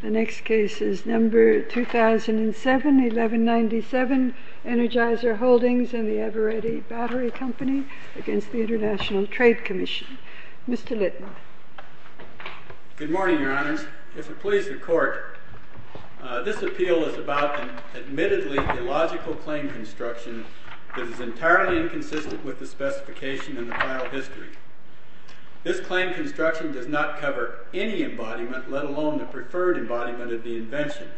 The next case is number 2007-1197, Energizer Holdings and the Aberretti Battery Company against the International Trade Commission. Mr. Littner. Good morning, Your Honors. If it pleases the Court, this appeal is about, admittedly, the logical claim construction that is entirely inconsistent with the specification in the loan, the preferred embodiment of the invention.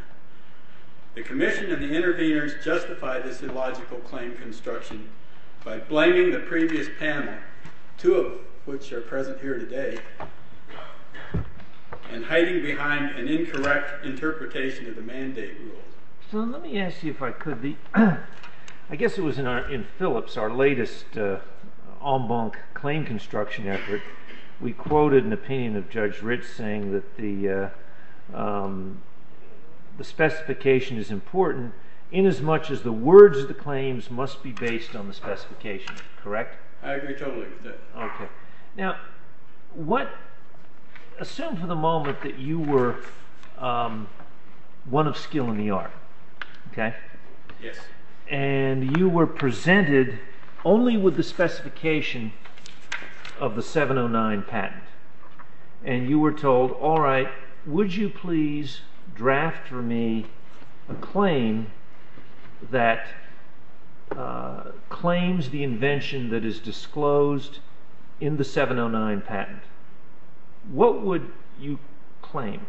The Commission and the interveners justify this illogical claim construction by blaming the previous panel, two of which are present here today, and hiding behind an incorrect interpretation of the mandate rules. So let me ask you if I could. I guess it was in Phillips, our latest en banc claim construction effort, we quoted an opinion of Judge Ritz saying that the specification is important inasmuch as the words of the claims must be based on the specification, correct? I agree totally with that. Okay. Now, what, assume for the moment that you were one of skill in the art, okay? Yes. And you were presented only with the specification of the 709 patent. And you were told, all right, would you please draft for me a claim that claims the invention that is disclosed in the 709 patent? What would you claim?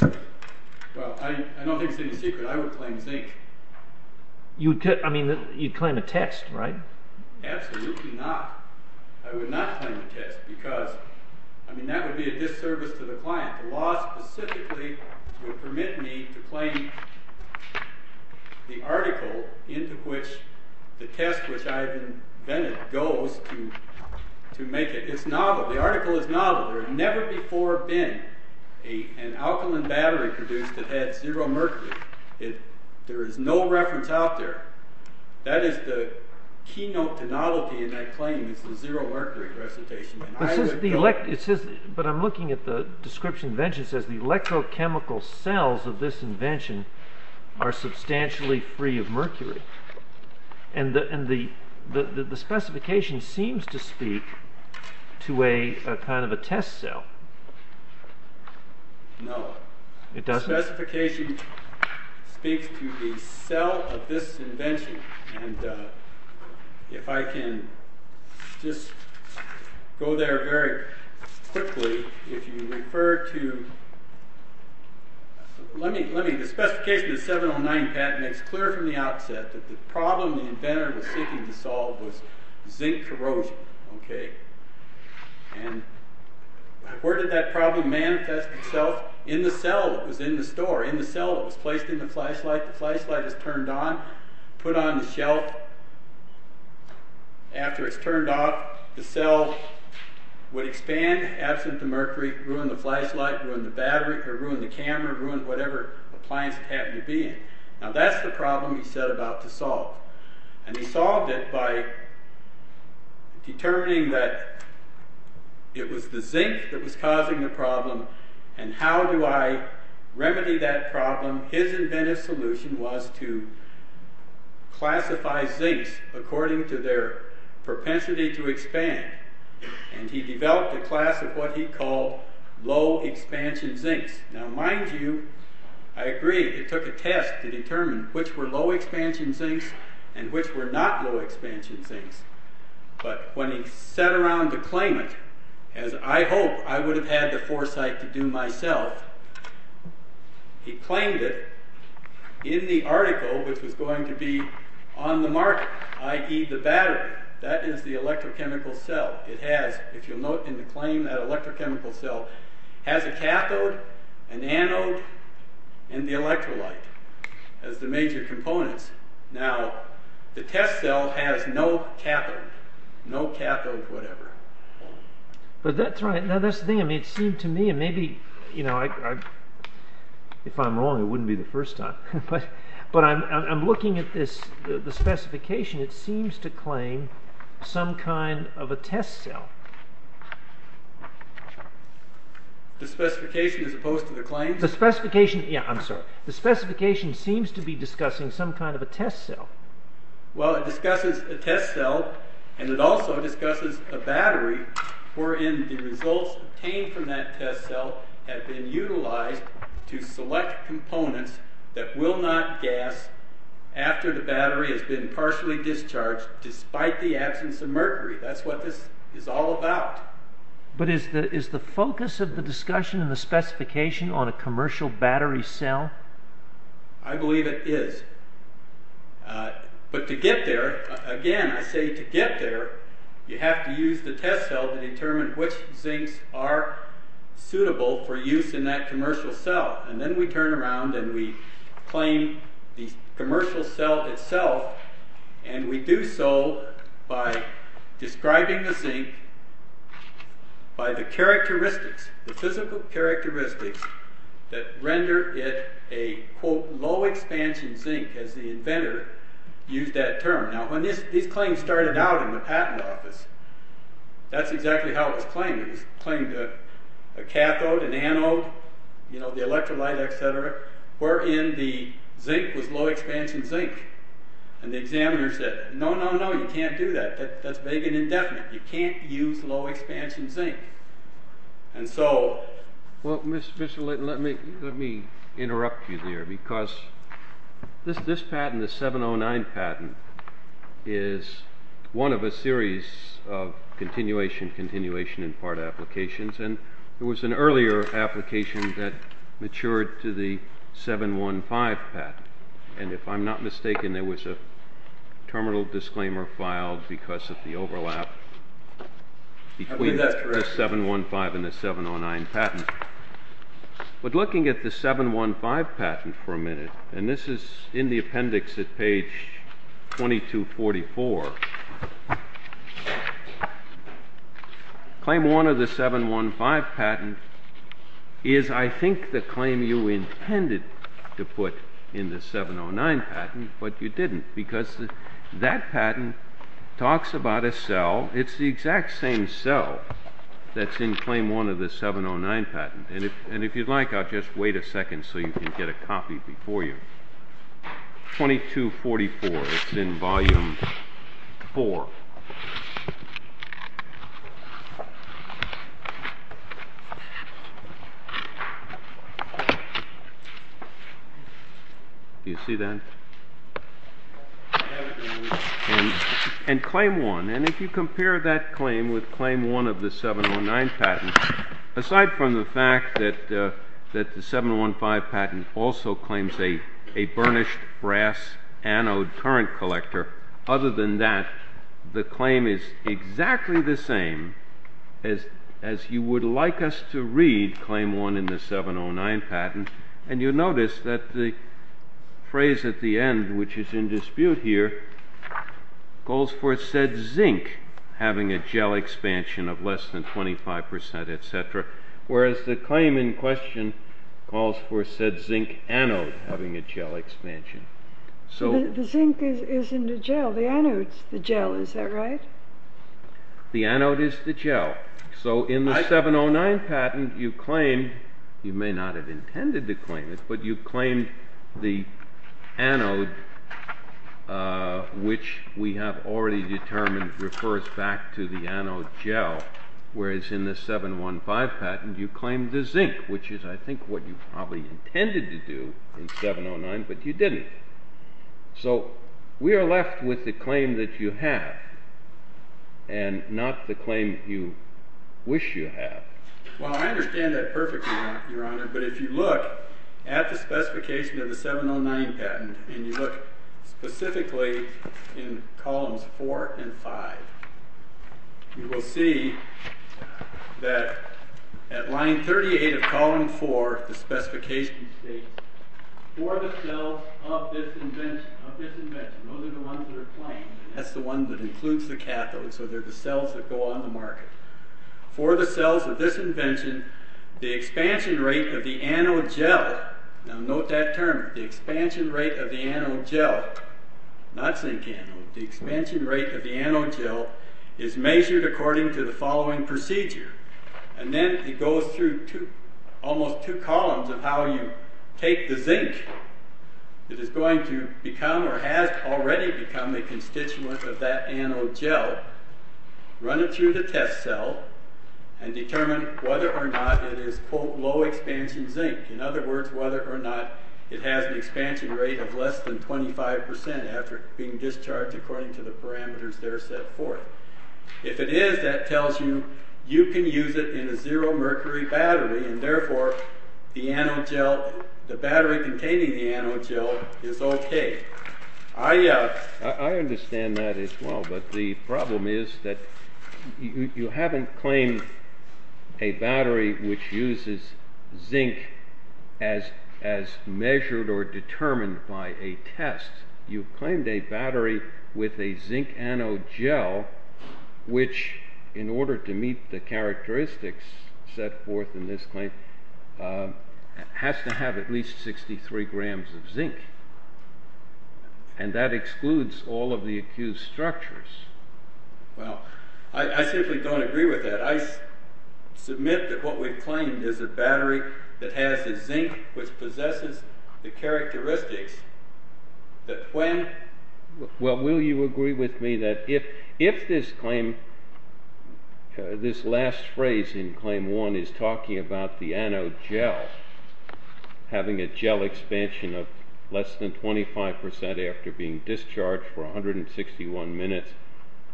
Well, I don't think it's any secret I would claim zinc. You'd claim a text, right? Absolutely not. I would not claim a text because that would be a disservice to the client. The law specifically would permit me to claim the article into which the test which I've invented goes to make it. It's novel. The article is novel. There had never before been an alkaline battery produced that had zero mercury. There is no reference out there. That is the keynote to novelty in that claim is the zero mercury recitation. But I'm looking at the description of the invention. It says the electrochemical cells of this invention are substantially free of mercury. And the specification seems to speak to a kind of a test cell. No. It doesn't? The specification speaks to the cell of this invention. And if I can just go there very quickly. The specification of the 709 patent makes clear from the outset that the problem the inventor was seeking to solve was zinc corrosion. And where did that problem manifest itself? In the cell that was in the store. In the cell that was placed in the flashlight. The flashlight is turned on. Put on the shelf. After it's turned off, the cell would expand absent the mercury, ruin the flashlight, ruin the battery, or ruin the camera, ruin whatever appliance it happened to be in. Now that's the problem he set about to solve. And he solved it by determining that it was the zinc that was causing the problem and how do I to classify zincs according to their propensity to expand. And he developed a class of what he called low-expansion zincs. Now mind you, I agree it took a test to determine which were low-expansion zincs and which were not low-expansion zincs. But when he sat around to claim it, as I hope I would have had the foresight to do myself, he claimed it in the article which was going to be on the market, i.e. the battery. That is the electrochemical cell. It has, if you'll note in the claim, that electrochemical cell has a cathode, an anode, and the electrolyte as the major components. Now the test cell has no cathode. No cathode whatever. But that's right. Now that's the thing. It seems to me, and maybe if I'm wrong it wouldn't be the first time, but I'm looking at the specification. It seems to claim some kind of a test cell. The specification as opposed to the claim? The specification, yeah I'm sorry. The specification seems to be discussing some kind of a test cell. Well it discusses a test cell and it also discusses a battery wherein the results obtained from that test cell have been utilized to select components that will not gas after the battery has been partially discharged despite the absence of mercury. That's what this is all about. But is the focus of the discussion in the specification on a commercial battery cell? I believe it is. But to get there, again I say to get there, you have to use the test cell to determine which zincs are suitable for use in that commercial cell. And then we turn around and we claim the commercial cell itself and we do so by describing the zinc by the characteristics, the physical characteristics that render it a quote low-expansion zinc as the inventor used that term. Now when these claims started out in the patent office, that's exactly how it was claimed. It was claimed a cathode, an anode, the electrolyte, etc. wherein the zinc was low-expansion zinc. And the examiners said, no, no, no, you can't do that. That's vague and indefinite. You can't use low-expansion zinc. And so... Well, Mr. Litton, let me interrupt you there because this patent, the 709 patent, is one of a series of continuation, continuation in part applications. And there was an earlier application that matured to the 715 patent. And if I'm not mistaken, there was a terminal disclaimer filed because of the overlap between the 715 and the 709 patent. But looking at the 715 patent for a minute, and this is in the appendix at page 2244, claim one of the 715 patent is, I think, the claim you intended to put in the 709 patent, but you didn't because that patent talks about a cell. It's the exact same cell that's in claim one of the 709 patent. And if you'd like, I'll just wait a second so you can get a copy before you. 2244. It's in volume four. Do you see that? And claim one. And if you compare that claim with claim one of the 709 patent, aside from the fact that the 715 patent also claims a burnished brass anode current collector, other than that, the claim is exactly the same as you would like us to read claim one in the 709 patent. And you'll notice that the phrase at the end, which is in dispute here, calls for said zinc having a gel expansion of less than 25%, et cetera, whereas the claim in question calls for said zinc anode having a gel expansion. The zinc is in the gel. The anode's the gel. Is that right? The anode is the gel. So in the 709 patent, you claim, you may not have intended to claim it, but you've claimed the anode, which we have already determined refers back to the anode gel, whereas in the 715 patent, you claimed the zinc, which is, I think, what you probably intended to do in 709, but you didn't. So we are left with the claim that you have and not the claim you wish you have. Well, I understand that perfectly, Your Honor, but if you look at the specification of the 709 patent, and you look specifically in columns four and five, you will see that at line 38 of column four, the specification states, for the cells of this invention, those are the ones that are claimed, that's the one that includes the cathode, so they're the cells of this invention, the expansion rate of the anode gel, now note that term, the expansion rate of the anode gel, not zinc anode, the expansion rate of the anode gel is measured according to the following procedure, and then it goes through almost two columns of how you take the zinc that is going to become or has already become a constituent of that anode gel, run it through the test cell, and determine whether or not it is quote, low-expansion zinc, in other words, whether or not it has an expansion rate of less than 25% after being discharged according to the parameters there set forth. If it is, that tells you, you can use it in a zero-mercury battery, and therefore, the anode gel, the problem is that you haven't claimed a battery which uses zinc as measured or determined by a test, you've claimed a battery with a zinc anode gel, which in order to meet the characteristics set forth in this claim, has to have at least 63 grams of zinc, and that is the structure. Well, I simply don't agree with that. I submit that what we've claimed is a battery that has a zinc which possesses the characteristics, that when... Well, will you agree with me that if this claim, this last phrase in claim one is talking about the anode gel having a gel expansion of less than 25% after being discharged for 161 minutes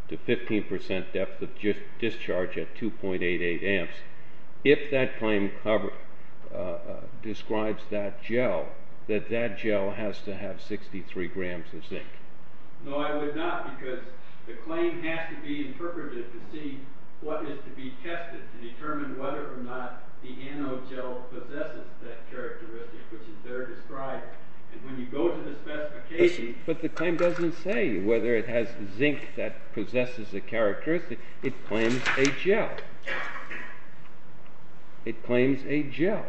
to 15% depth of discharge at 2.88 amps, if that claim describes that gel, that that gel has to have 63 grams of zinc? No, I would not, because the claim has to be interpreted to see what is to be tested to determine whether or not the anode gel possesses that characteristic, which is there described, and when you go to the specification... But the claim doesn't say whether it has zinc that possesses a characteristic, it claims a gel. It claims a gel.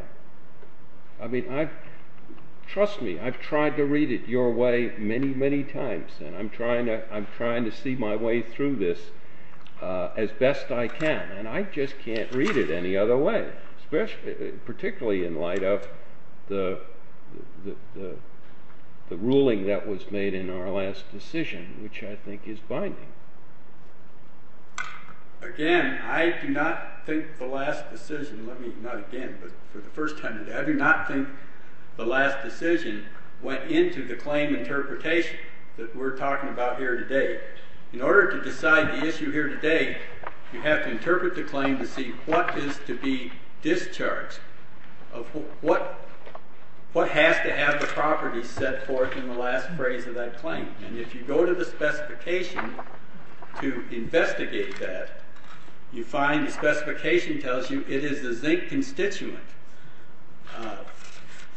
I mean, trust me, I've tried to read it your way many, many times, and I'm trying to see my way through this as best I can, and I just can't read it any other way, particularly in light of the ruling that was made in our last decision, which I think is binding. Again, I do not think the last decision, let me, not again, but for the first time, I do not think the last decision went into the claim interpretation that we're talking about here today. In order to decide the issue here today, you have to interpret the claim to see what is to be discharged, what has to have the properties set forth in the last phrase of that claim, and if you go to the specification to investigate that, you find the specification tells you it is a zinc constituent.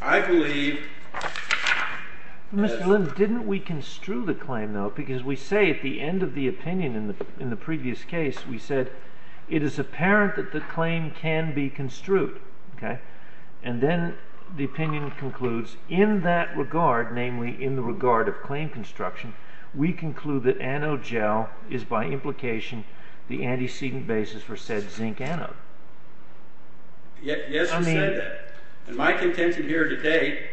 I believe... Mr. Lind, didn't we construe the claim, though, because we say at the end of the opinion in the previous case, we said, it is apparent that the claim can be construed, and then the opinion concludes in that regard, namely in the regard of claim construction, we conclude that anode gel is by implication the antecedent basis for said zinc anode. Yes, you said that. My contention here today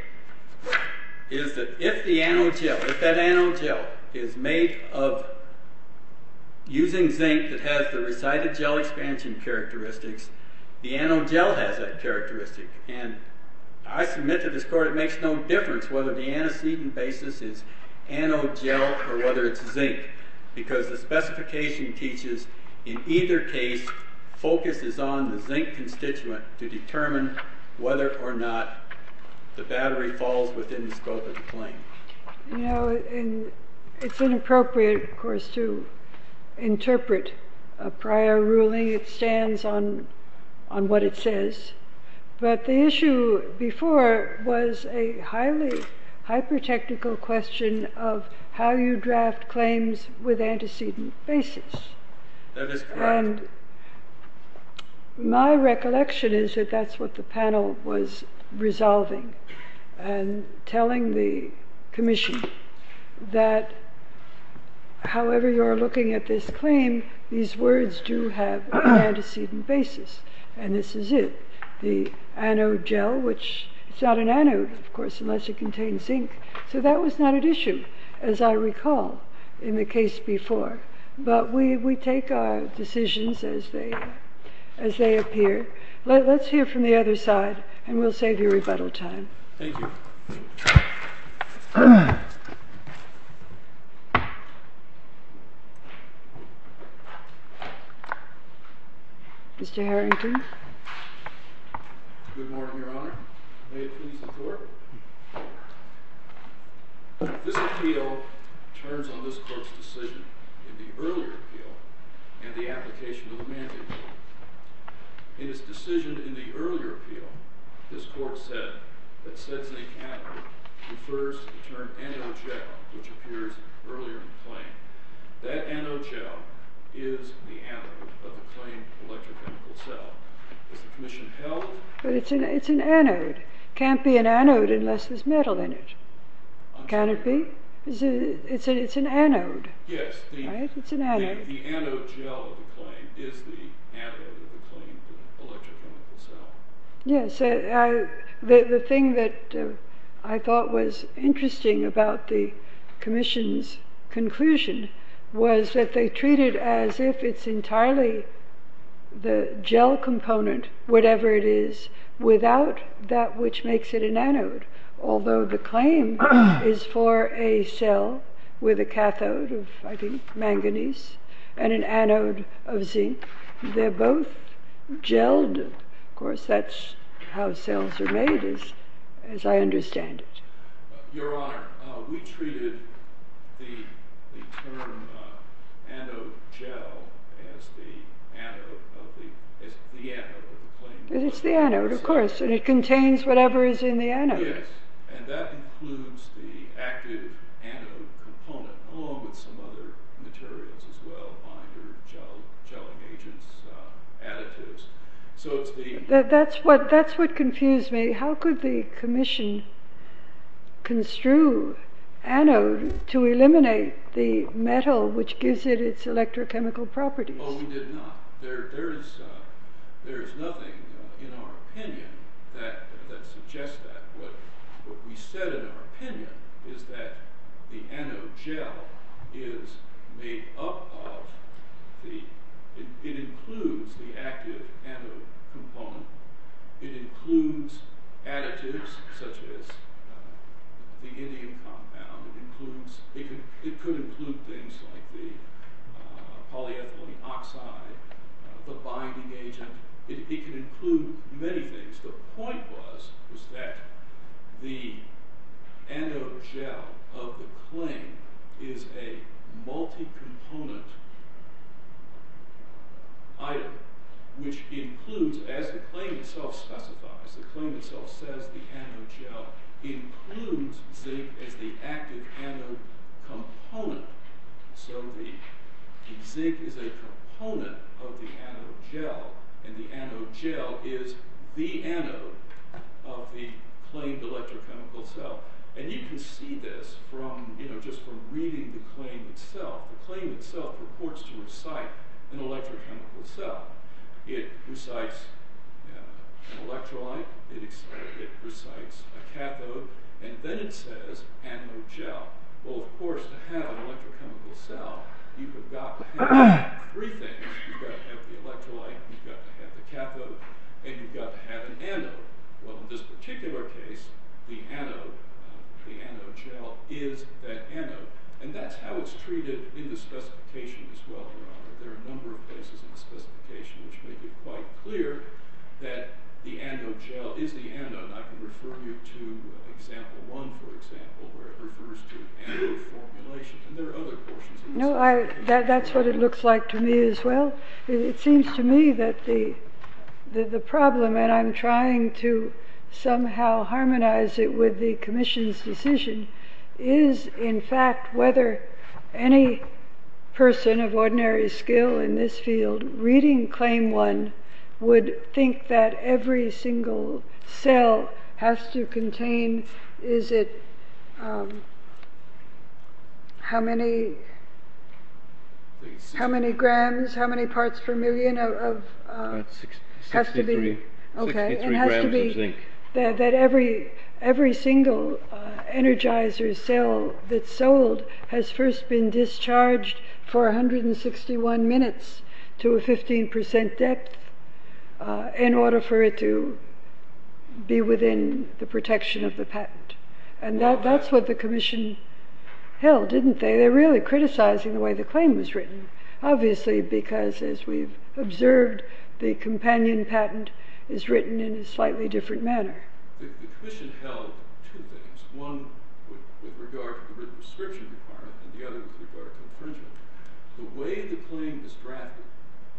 is that if the anode gel, if that anode gel is made of using zinc that has the resided gel expansion characteristics, the anode gel has that characteristic, and I submit to this court it makes no difference whether the antecedent basis is anode gel or whether it's zinc, because the specification teaches in either case, focus is on the zinc constituent to determine whether or not the battery falls within the scope of the claim. You know, it's inappropriate, of course, to interpret a prior ruling. It stands on what it says, but the issue before was a highly hyper-technical question of how you draft claims with antecedent basis. That is correct. And my recollection is that that's what the panel was resolving and telling the commission that however you're looking at this claim, these words do have an antecedent basis, and this is it. The anode gel, which it's not an anode, of course, unless it contains zinc. So that was not an issue, as I recall in the case before. But we take our decisions as they appear. Let's hear from the other side, and we'll save you rebuttal time. Thank you. Mr. Harrington? Good morning, Your Honor. May it please the Court? This appeal turns on this Court's decision in the earlier appeal and the application of the mandate. In this decision in the earlier appeal, this Court said that sedznik anode refers to the term anode gel, which appears earlier in the claim. That anode gel is the anode of the claim electrochemical cell. Is the commission held? But it's an anode. It can't be an anode unless there's metal in it. Can it be? It's an anode. Yes. Right? It's an anode. The anode gel of the claim is the anode of the claim electrochemical cell. Yes. The thing that I thought was interesting about the commission's conclusion was that they treat it as if it's entirely the gel component, whatever it is, without that which and an anode of zinc. They're both gelled. Of course, that's how cells are made, as I understand it. Your Honor, we treated the term anode gel as the anode of the claim electrochemical cell. It's the anode, of course, and it contains whatever is in the anode. Yes, and that includes the active anode component, along with some other materials as well, binder, gelling agents, additives. That's what confused me. How could the commission construe anode to eliminate the metal which gives it its electrochemical properties? Oh, we did not. There is nothing in our opinion that suggests that. What we said in our opinion is that the anode gel is made up of – it includes the active anode component. It includes additives such as the indium compound. It could include things like the polyethylene oxide, the binding agent. It could include many things. The point was that the anode gel of the claim is a multi-component item, which includes, as the claim itself specifies, the claim itself says the anode gel includes zinc as the active anode component. So the zinc is a component of the anode gel, and the anode gel is the anode of the claimed electrochemical cell. And you can see this just from reading the claim itself. The claim itself purports to recite an electrochemical cell. It recites an electrolyte, it recites a cathode, and then it says anode gel. Well, of course, to have an electrochemical cell, you've got to have three things. You've got to have the electrolyte, you've got to have the cathode, and you've got to have an anode. Well, in this particular case, the anode gel is that anode. And that's how it's treated in the specification as well, Your Honor. There are a number of cases in the specification which make it quite clear that the anode gel is the anode. I can refer you to example one, for example, where it refers to anode formulation. And there are other portions of the specification. No, that's what it looks like to me as well. It seems to me that the problem, and I'm trying to somehow harmonize it with the commission's decision, is, in fact, whether any person of ordinary skill in this field reading claim one would think that every single cell has to contain, is it, how many, how many grams, how many parts per million of... 63. Okay. 63 grams of zinc. That every single energizer cell that's sold has first been discharged for 161 minutes to a 15% depth in order for it to be within the protection of the patent. And that's what the commission held, didn't they? They're really criticizing the way the claim was written. Obviously because, as we've observed, the companion patent is written in a slightly different manner. The commission held two things. One with regard to the written prescription requirement, and the other with regard to infringement. The way the claim is drafted,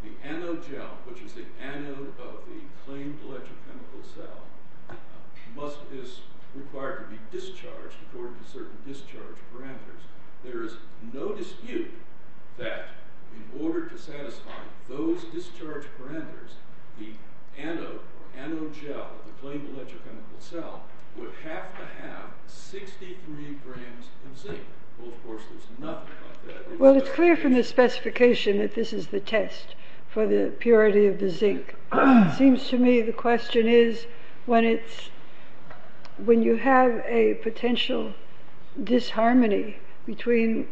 the anode gel, which is the anode of the claimed electrochemical cell, must, is required to be discharged according to certain discharge parameters. There is no dispute that in order to satisfy those discharge parameters, the anode or anode gel of the claimed electrochemical cell would have to have 63 grams of zinc. Well, of course, there's nothing like that. Well, it's clear from the specification that this is the test for the purity of the zinc. It seems to me the question is, when it's, when you have a potential disharmony between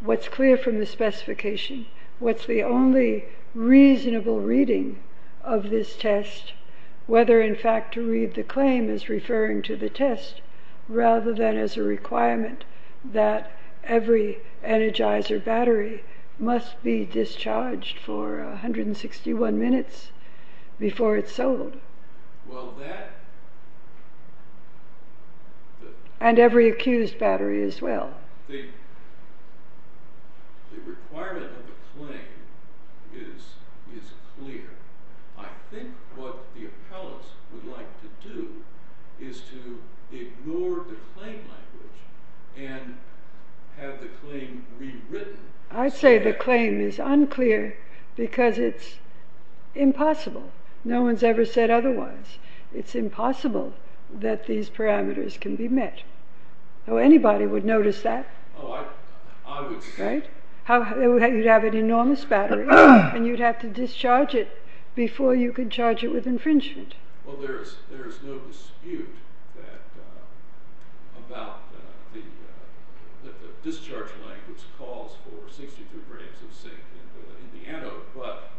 what's clear from the specification, what's the only reasonable reading of this test, whether in fact to read the claim as referring to the test, rather than as a requirement that every energizer battery must be discharged for 161 minutes before it's sold. Well, that... And every accused battery as well. The requirement of the claim is clear. I think what the appellants would like to do is to ignore the claim language and have the claim rewritten. I'd say the claim is unclear because it's impossible. No one's ever said otherwise. It's impossible that these parameters can be met. Anybody would notice that. Oh, I would... Right? You'd have an enormous battery, and you'd have to discharge it before you could charge it with infringement. Well, there is no dispute about the discharge language calls for 62 grams of zinc in the anode, but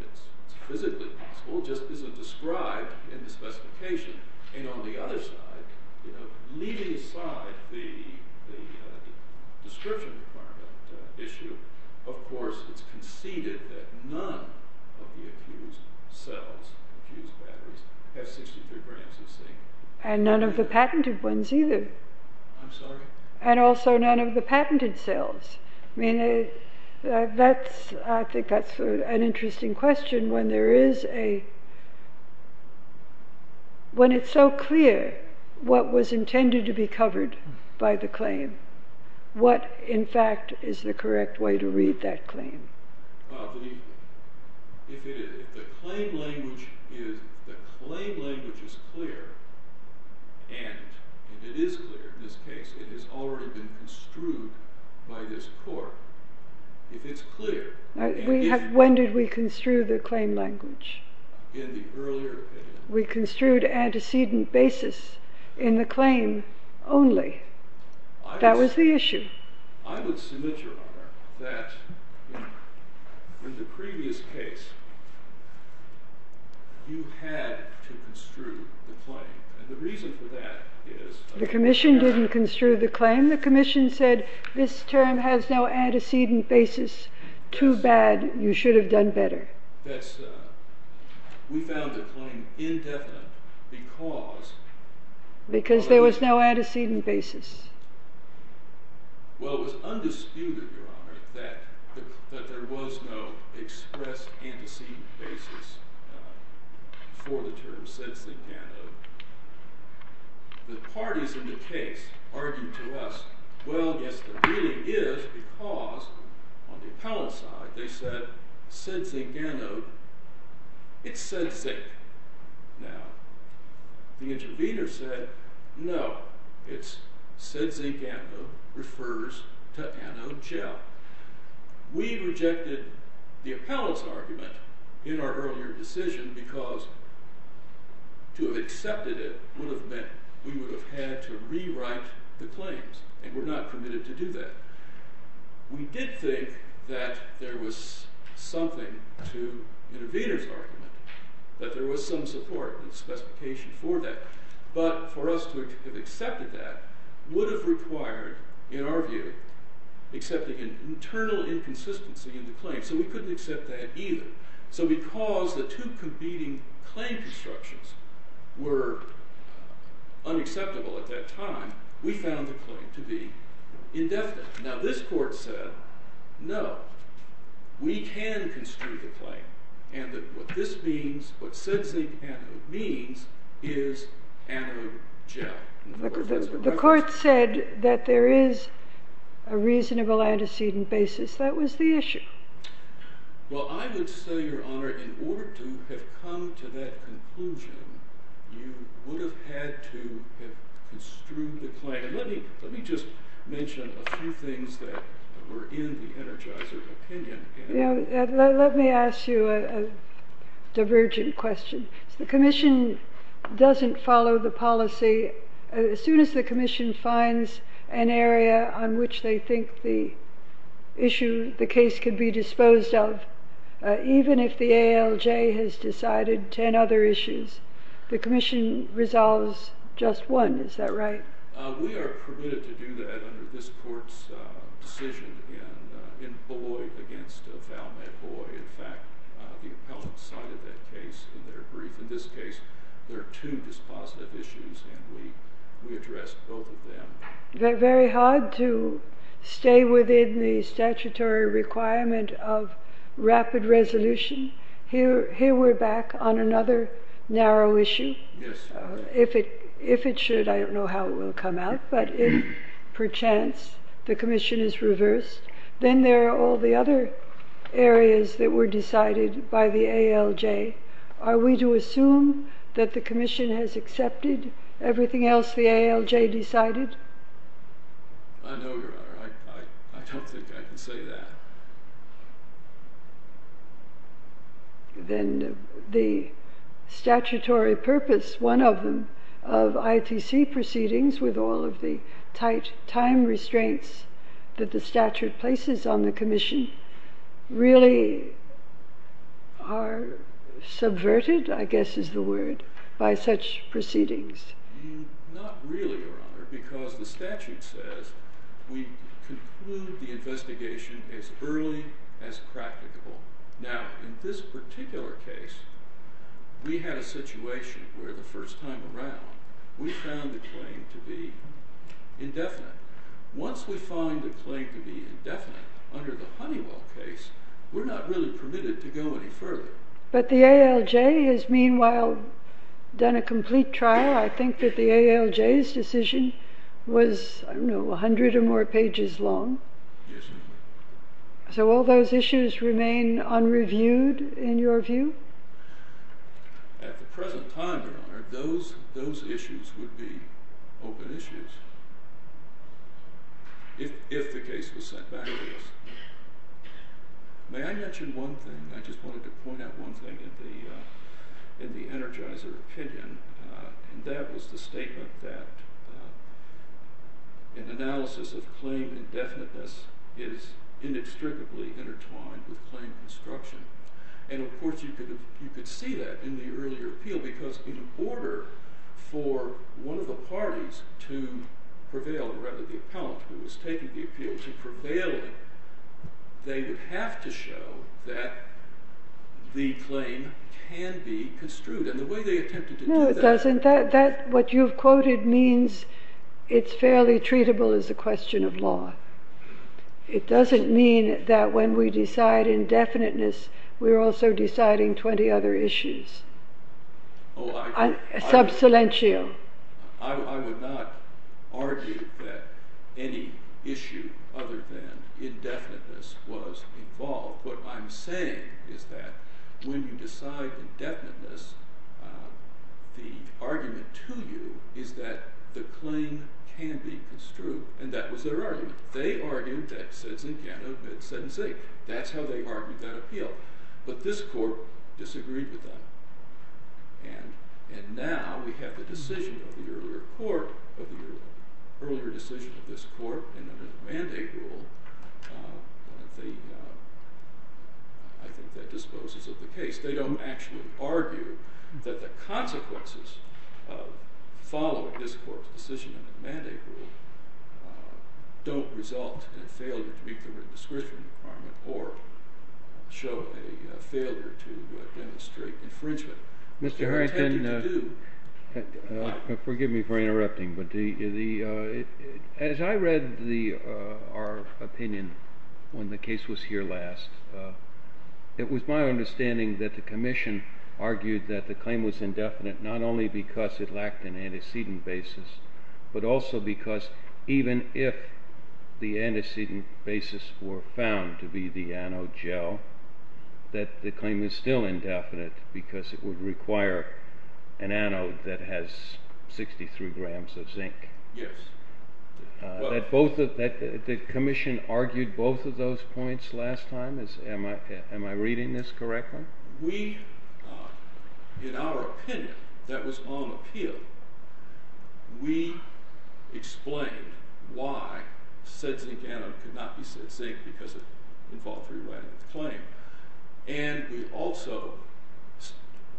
it's physically possible. It just isn't described in the specification. And on the other side, leaving aside the description requirement issue, of course it's conceded that none of the accused cells, accused batteries, have 63 grams of zinc. And none of the patented ones either. I'm sorry? And also none of the patented cells. I think that's an interesting question. When it's so clear what was intended to be covered by the claim, what, in fact, is the correct way to read that claim? If the claim language is clear, and it is clear in this case, it has already been construed by this court. If it's clear... When did we construe the claim language? In the earlier opinion. We construed antecedent basis in the claim only. That was the issue. I would submit, Your Honor, that in the previous case, you had to construe the claim. And the reason for that is... The commission didn't construe the claim. The commission said, this term has no antecedent basis. Too bad. You should have done better. We found the claim indefinite because... Well, it was undisputed, Your Honor, that there was no express antecedent basis for the term sed zingano. The parties in the case argued to us, well, yes, there really is, because on the appellant side, they said, sed zingano, it's sed zing. Now, the intervener said, no, it's sed zingano refers to anogel. We rejected the appellant's argument in our earlier decision because to have accepted it would have meant we would have had to rewrite the claims, and we're not committed to do that. We did think that there was something to the intervener's argument, that there was some support and specification for that. But for us to have accepted that would have required, in our view, accepting an internal inconsistency in the claim, so we couldn't accept that either. So because the two competing claim constructions were unacceptable at that time, we found the claim to be indefinite. Now, this court said, no, we can construe the claim, and that what this means, what sed zingano means, is anogel. The court said that there is a reasonable antecedent basis. That was the issue. Well, I would say, Your Honor, in order to have come to that conclusion, you would have had to have construed the claim. Let me just mention a few things that were in the energizer's opinion. Let me ask you a divergent question. If the commission doesn't follow the policy, as soon as the commission finds an area on which they think the issue, the case, could be disposed of, even if the ALJ has decided 10 other issues, the commission resolves just one. Is that right? We are permitted to do that under this court's decision in Boyd against Othelme Boyd. In fact, the appellant cited that case in their brief. In this case, there are two dispositive issues, and we addressed both of them. Very hard to stay within the statutory requirement of rapid resolution. Here we're back on another narrow issue. If it should, I don't know how it will come out. But if, perchance, the commission is reversed, then there are all the other areas that were decided by the ALJ. Are we to assume that the commission has accepted everything else the ALJ decided? I know, Your Honor. I don't think I can say that. Then the statutory purpose, one of them, of ITC proceedings with all of the tight time restraints that the statute places on the commission, really are subverted, I guess is the word, by such proceedings. Not really, Your Honor, because the statute says we conclude the investigation as early as practical. Now, in this particular case, we had a situation where the first time around, we found the claim to be indefinite. Once we find a claim to be indefinite under the Honeywell case, we're not really permitted to go any further. But the ALJ has, meanwhile, done a complete trial. I think that the ALJ's decision was, I don't know, 100 or more pages long. Yes, it was. So all those issues remain unreviewed, in your view? At the present time, Your Honor, those issues would be open issues if the case was sent back to us. May I mention one thing? I just wanted to point out one thing in the Energizer opinion. And that was the statement that an analysis of claim indefiniteness is inextricably intertwined with claim construction. And of course, you could see that in the earlier appeal, because in order for one of the parties to prevail, or rather the appellant who was taking the appeal to prevail, they would have to show that the claim can be construed. And the way they attempted to do that. No, it doesn't. What you've quoted means it's fairly treatable as a question of law. It doesn't mean that when we decide indefiniteness, we're also deciding 20 other issues. Sub silentio. I would not argue that any issue other than indefiniteness was involved. What I'm saying is that when you decide indefiniteness, the argument to you is that the claim can be construed. And that was their argument. They argued that citizens can't admit sentencing. That's how they argued that appeal. But this court disagreed with that. And now we have the decision of the earlier court, of the earlier decision of this court, and under the mandate rule, I think that disposes of the case. They don't actually argue that the consequences of following this court's decision under the mandate rule don't result in a failure to meet the written description requirement or show a failure to demonstrate infringement. Mr. Harrington, forgive me for interrupting, but as I read our opinion when the case was here last, it was my understanding that the commission argued that the claim was indefinite not only because it lacked an antecedent basis, but also because even if the antecedent basis were found to be the anode gel, that the claim is still indefinite because it would require an anode that has 63 grams of zinc. Yes. The commission argued both of those points last time. Am I reading this correctly? We, in our opinion, that was on appeal, we explained why said zinc anode could not be said zinc because it involved rewriting the claim. And we also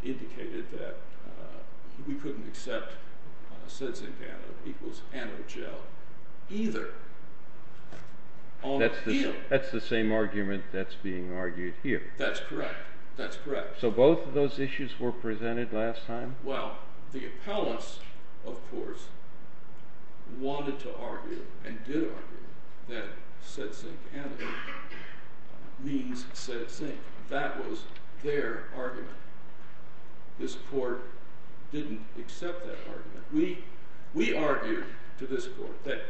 indicated that we couldn't accept said zinc anode equals anode gel either on appeal. That's the same argument that's being argued here. That's correct. That's correct. So both of those issues were presented last time? Well, the appellants, of course, wanted to argue and did argue that said zinc anode means said zinc. That was their argument. This court didn't accept that argument. We argued to this court that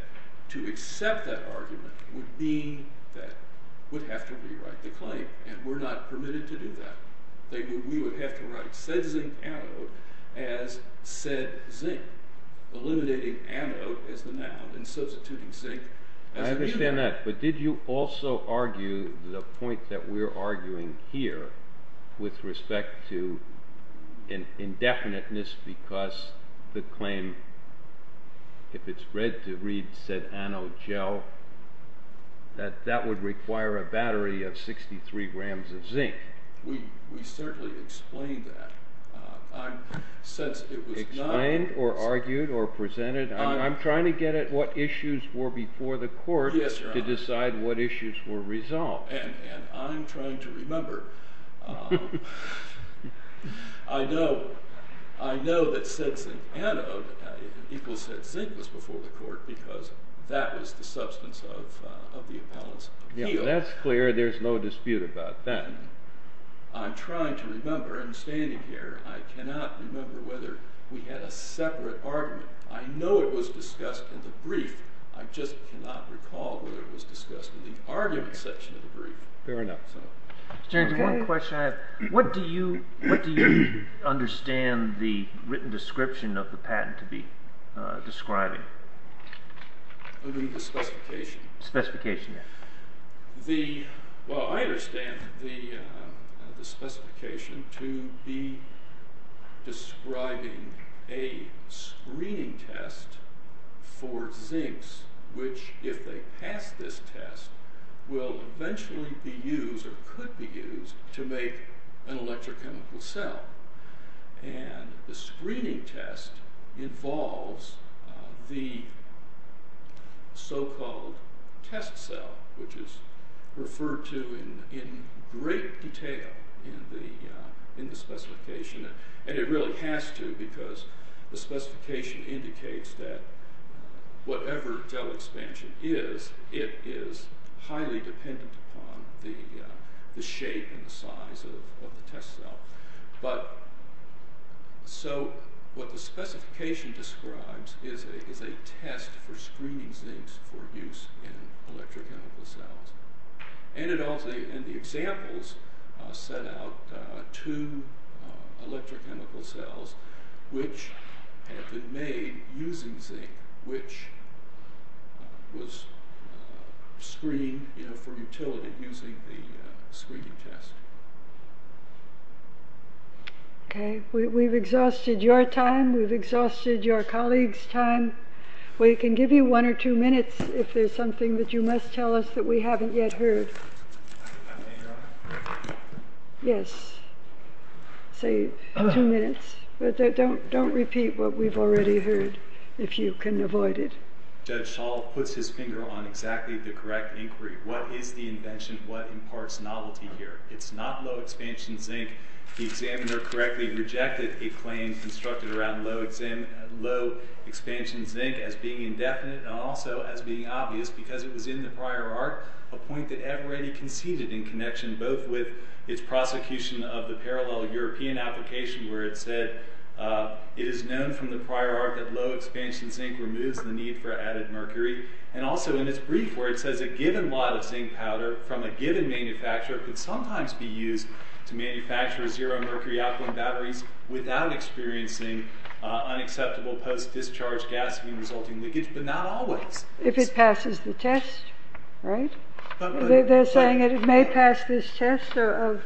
to accept that argument would mean that we'd have to rewrite the claim and we're not permitted to do that. We would have to write said zinc anode as said zinc, eliminating anode as the noun and substituting zinc. I understand that, but did you also argue the point that we're arguing here with respect to indefiniteness because the claim, if it's read to read said anode gel, that that would require a battery of 63 grams of zinc? We certainly explained that. Explained or argued or presented? I'm trying to get at what issues were before the court to decide what issues were resolved. And I'm trying to remember. I know that said zinc anode equals said zinc was before the court because that was the substance of the appellant's appeal. Yeah, that's clear. There's no dispute about that. I'm trying to remember. I'm standing here. I cannot remember whether we had a separate argument. I know it was discussed in the brief. I just cannot recall whether it was discussed in the argument section of the brief. Fair enough. James, one question I have. What do you understand the written description of the patent to be describing? The specification? Specification, yes. Well, I understand the specification to be describing a screening test for zincs, which if they pass this test, will eventually be used or could be used to make an electrochemical cell. And the screening test involves the so-called test cell, which is referred to in great detail in the specification. And it really has to because the specification indicates that whatever del expansion is, it is highly dependent upon the shape and the size of the test cell. So what the specification describes is a test for screening zincs for use in electrochemical cells. And the examples set out two electrochemical cells, which have been made using zinc, which was screened for utility using the screening test. OK, we've exhausted your time. We've exhausted your colleagues' time. We can give you one or two minutes if there's something that you must tell us that we haven't yet heard. Yes, say two minutes. But don't repeat what we've already heard, if you can avoid it. Judge Schall puts his finger on exactly the correct inquiry. What is the invention? What imparts novelty here? It's not low-expansion zinc. The examiner correctly rejected a claim constructed around low-expansion zinc as being indefinite and also as being obvious, because it was in the prior art, a point that Everetti conceded in connection both with its prosecution of the parallel European application, where it said, it is known from the prior art that low-expansion zinc removes the need for added mercury, and also in its brief, where it says a given lot of zinc powder from a given manufacturer could sometimes be used to manufacture zero-mercury alkaline batteries without experiencing unacceptable post-discharge gasoline-resulting leakage, but not always. If it passes the test, right? They're saying it may pass this test of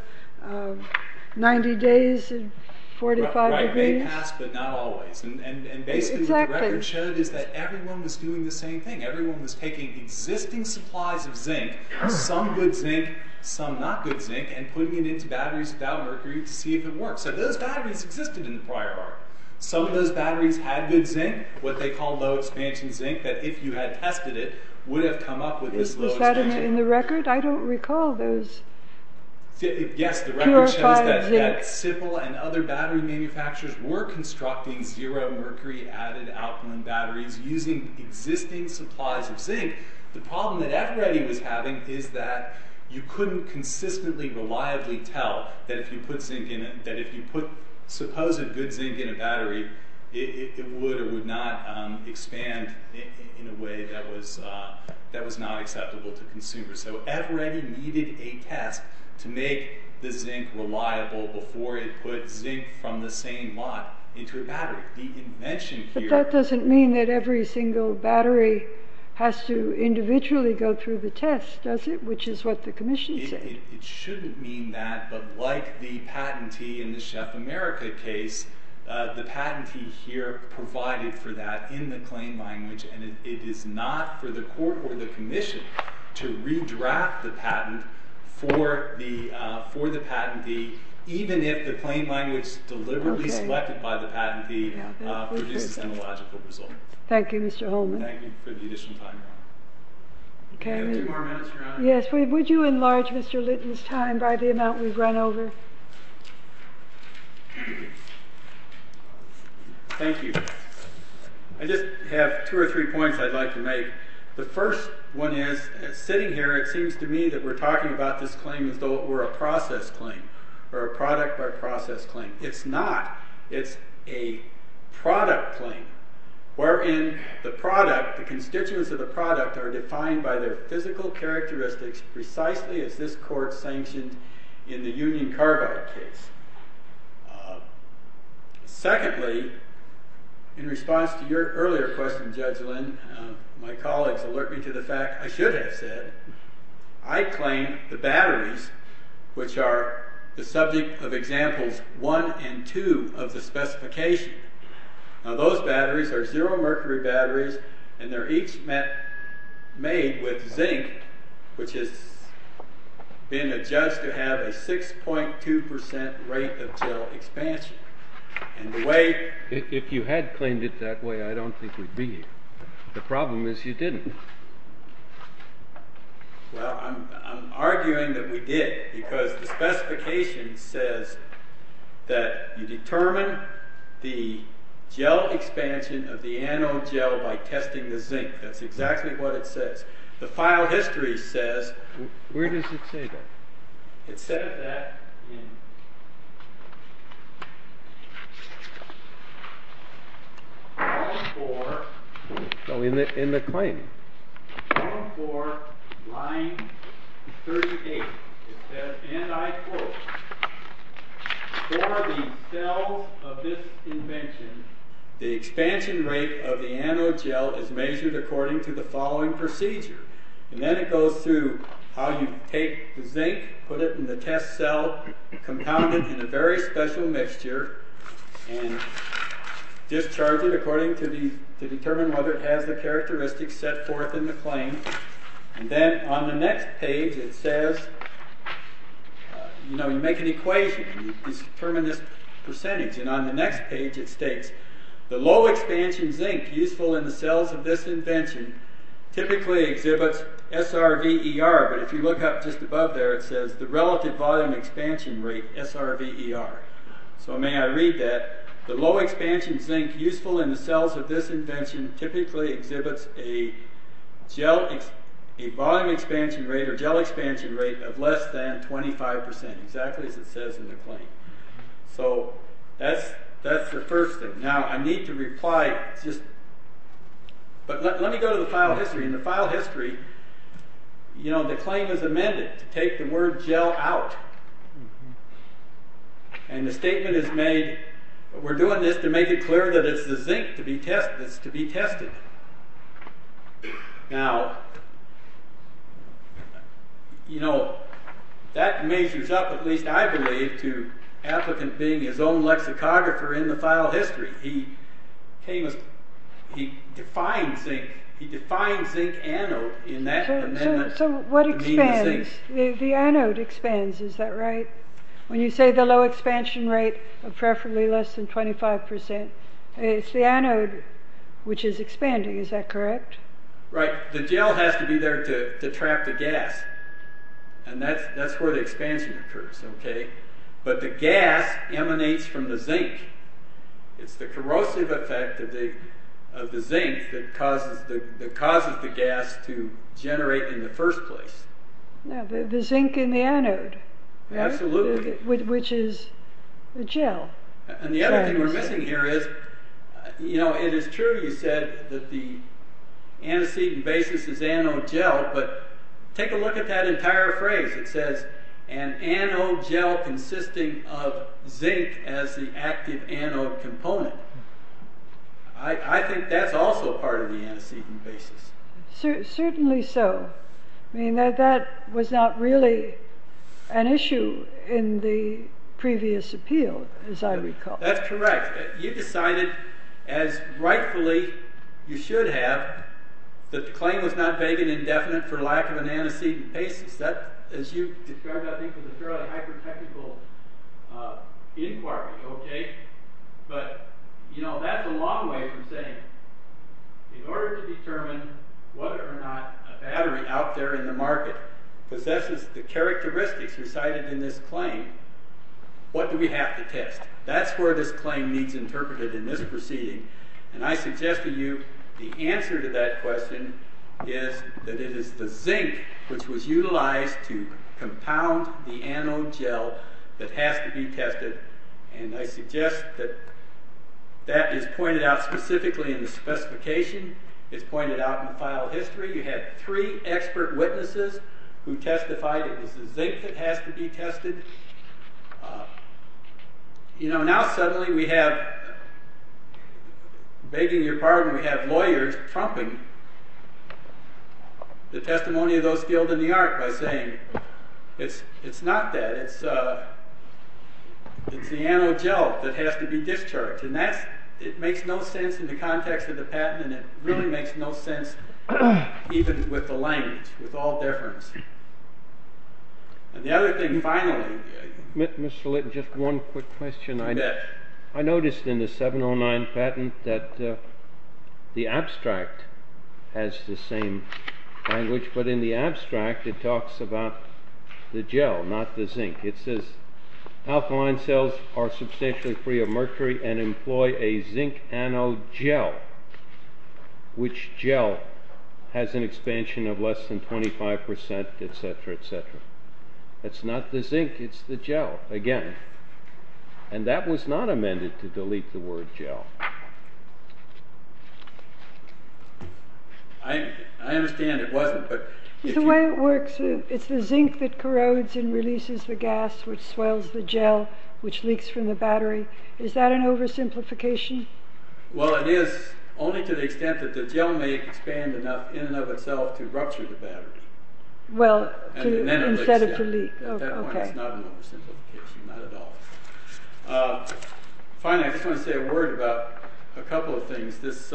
90 days and 45 degrees. Right, it may pass, but not always. And basically, the record showed is that everyone was doing the same thing. Everyone was taking existing supplies of zinc, some good zinc, some not-good zinc, and putting it into batteries without mercury to see if it worked. So those batteries existed in the prior art. Some of those batteries had good zinc, what they call low-expansion zinc, that if you had tested it, would have come up with this low-expansion zinc. Is that in the record? I don't recall those purified zinc. Yes, the record shows that SIPL and other battery manufacturers were constructing zero-mercury added alkaline batteries using existing supplies of zinc. The problem that Everetti was having is that you couldn't consistently, reliably tell that if you put supposed good zinc in a battery, it would or would not expand in a way that was not acceptable to consumers. So Everetti needed a test to make the zinc reliable before it put zinc from the same lot into a battery. The invention here... But that doesn't mean that every single battery has to individually go through the test, does it? Which is what the commission said. It shouldn't mean that, but like the patentee in the Chef America case, the patentee here provided for that in the claim language, and it is not for the court or the commission to redraft the patent for the patentee, even if the claim language deliberately selected by the patentee produces an illogical result. Thank you, Mr. Holman. Thank you for the additional time, Your Honor. Do we have two more minutes, Your Honor? Yes, would you enlarge Mr. Litton's time by the amount we've run over? Thank you. I just have two or three points I'd like to make. The first one is, sitting here, it seems to me that we're talking about this claim as though it were a process claim, or a product-by-process claim. It's not. It's a product claim. Wherein the product, the constituents of the product, are defined by their physical characteristics precisely as this court sanctioned in the Union Carbide case. Secondly, in response to your earlier question, Judge Lynn, my colleagues alert me to the fact I should have said, I claim the batteries, which are the subject of Examples 1 and 2 of the specification. Now those batteries are zero-mercury batteries, and they're each made with zinc, which has been adjudged to have a 6.2% rate of gel expansion. And the way... If you had claimed it that way, I don't think we'd be here. The problem is you didn't. Well, I'm arguing that we did, because the specification says that you determine the gel expansion of the anode gel by testing the zinc. That's exactly what it says. The file history says... Where does it say that? It said that in... Form 4... In the claim. Form 4, line 38. It says, and I quote... For the cells of this invention, the expansion rate of the anode gel is measured according to the following procedure. And then it goes through how you take the zinc, put it in the test cell, compound it in a very special mixture, and discharge it according to the... To determine whether it has the characteristics set forth in the claim. And then, on the next page, it says... You know, you make an equation. You determine this percentage. And on the next page, it states... The low-expansion zinc useful in the cells of this invention typically exhibits SRVER, but if you look up just above there, it says the relative volume expansion rate, SRVER. So may I read that? The low-expansion zinc useful in the cells of this invention typically exhibits a gel... A volume expansion rate or gel expansion rate of less than 25%, exactly as it says in the claim. So, that's the first thing. Now, I need to reply... But let me go to the file history. In the file history, the claim is amended to take the word gel out. And the statement is made... We're doing this to make it clear that it's the zinc that's to be tested. Now... You know, that measures up, at least I believe, to Applicant being his own lexicographer in the file history. He came as... He defined zinc. He defined zinc anode in that amendment. So, what expands? The anode expands, is that right? When you say the low-expansion rate of preferably less than 25%, it's the anode which is expanding. Is that correct? Right. The gel has to be there to trap the gas. And that's where the expansion occurs. But the gas emanates from the zinc. It's the corrosive effect of the zinc that causes the gas to generate in the first place. The zinc in the anode. Absolutely. Which is the gel. And the other thing we're missing here is... You know, it is true you said that the antecedent basis is anode gel, but take a look at that entire phrase. It says, an anode gel consisting of zinc as the active anode component. I think that's also part of the antecedent basis. Certainly so. I mean, that was not really an issue in the previous appeal, as I recall. That's correct. You decided, as rightfully you should have, that the claim was not vague and indefinite for lack of an antecedent basis. That, as you described, I think, was a fairly hyper-technical inquiry, okay? But, you know, that's a long way from saying in order to determine whether or not a battery out there in the market possesses the characteristics recited in this claim, what do we have to test? That's where this claim needs interpreted in this proceeding, and I suggest to you the answer to that question is that it is the zinc which was utilized to compound the anode gel that has to be tested, and I suggest that that is pointed out specifically in the specification. It's pointed out in the file history. You have three expert witnesses who testified it was the zinc that has to be tested. You know, now suddenly we have, begging your pardon, we have lawyers trumping the testimony of those skilled in the art by saying it's not that. It's the anode gel that has to be discharged, and it makes no sense in the context of the patent, and it really makes no sense even with the language, with all deference. And the other thing, finally... Mr. Litton, just one quick question. Go ahead. I noticed in the 709 patent that the abstract has the same language, but in the abstract it talks about the gel, not the zinc. It says alkaline cells are substantially free of mercury and employ a zinc anode gel, which gel has an expansion of less than 25%, etc., etc. That's not the zinc, it's the gel, again. And that was not amended to delete the word gel. I understand it wasn't, but... It's the way it works. It's the zinc that corrodes and releases the gas which swells the gel, which leaks from the battery. Is that an oversimplification? Well, it is, only to the extent that the gel may expand enough in and of itself to rupture the battery. Well, instead of to leak. At that point, it's not an oversimplification. Not at all. Finally, I just want to say a word about a couple of things. This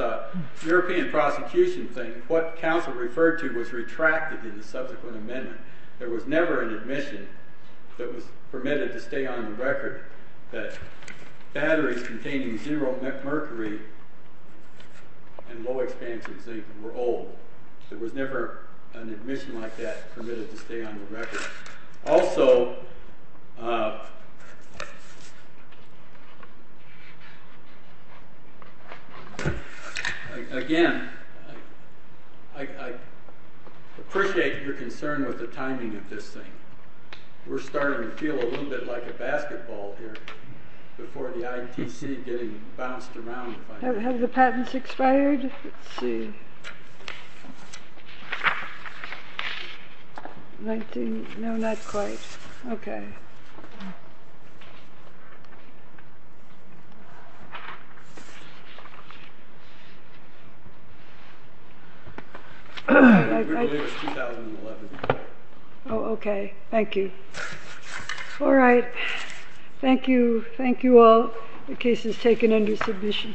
European prosecution thing, what counsel referred to was retracted in the subsequent amendment. There was never an admission that was permitted to stay on the record that batteries containing zero mercury and low expansions, they were old. There was never an admission like that permitted to stay on the record. Also, again, I appreciate your concern with the timing of this thing. We're starting to feel a little bit like a basketball here before the ITC getting bounced around. Have the patents expired? Let's see. 19... No, not quite. Okay. Oh, okay. Thank you. All right. Thank you all. The case is taken under submission.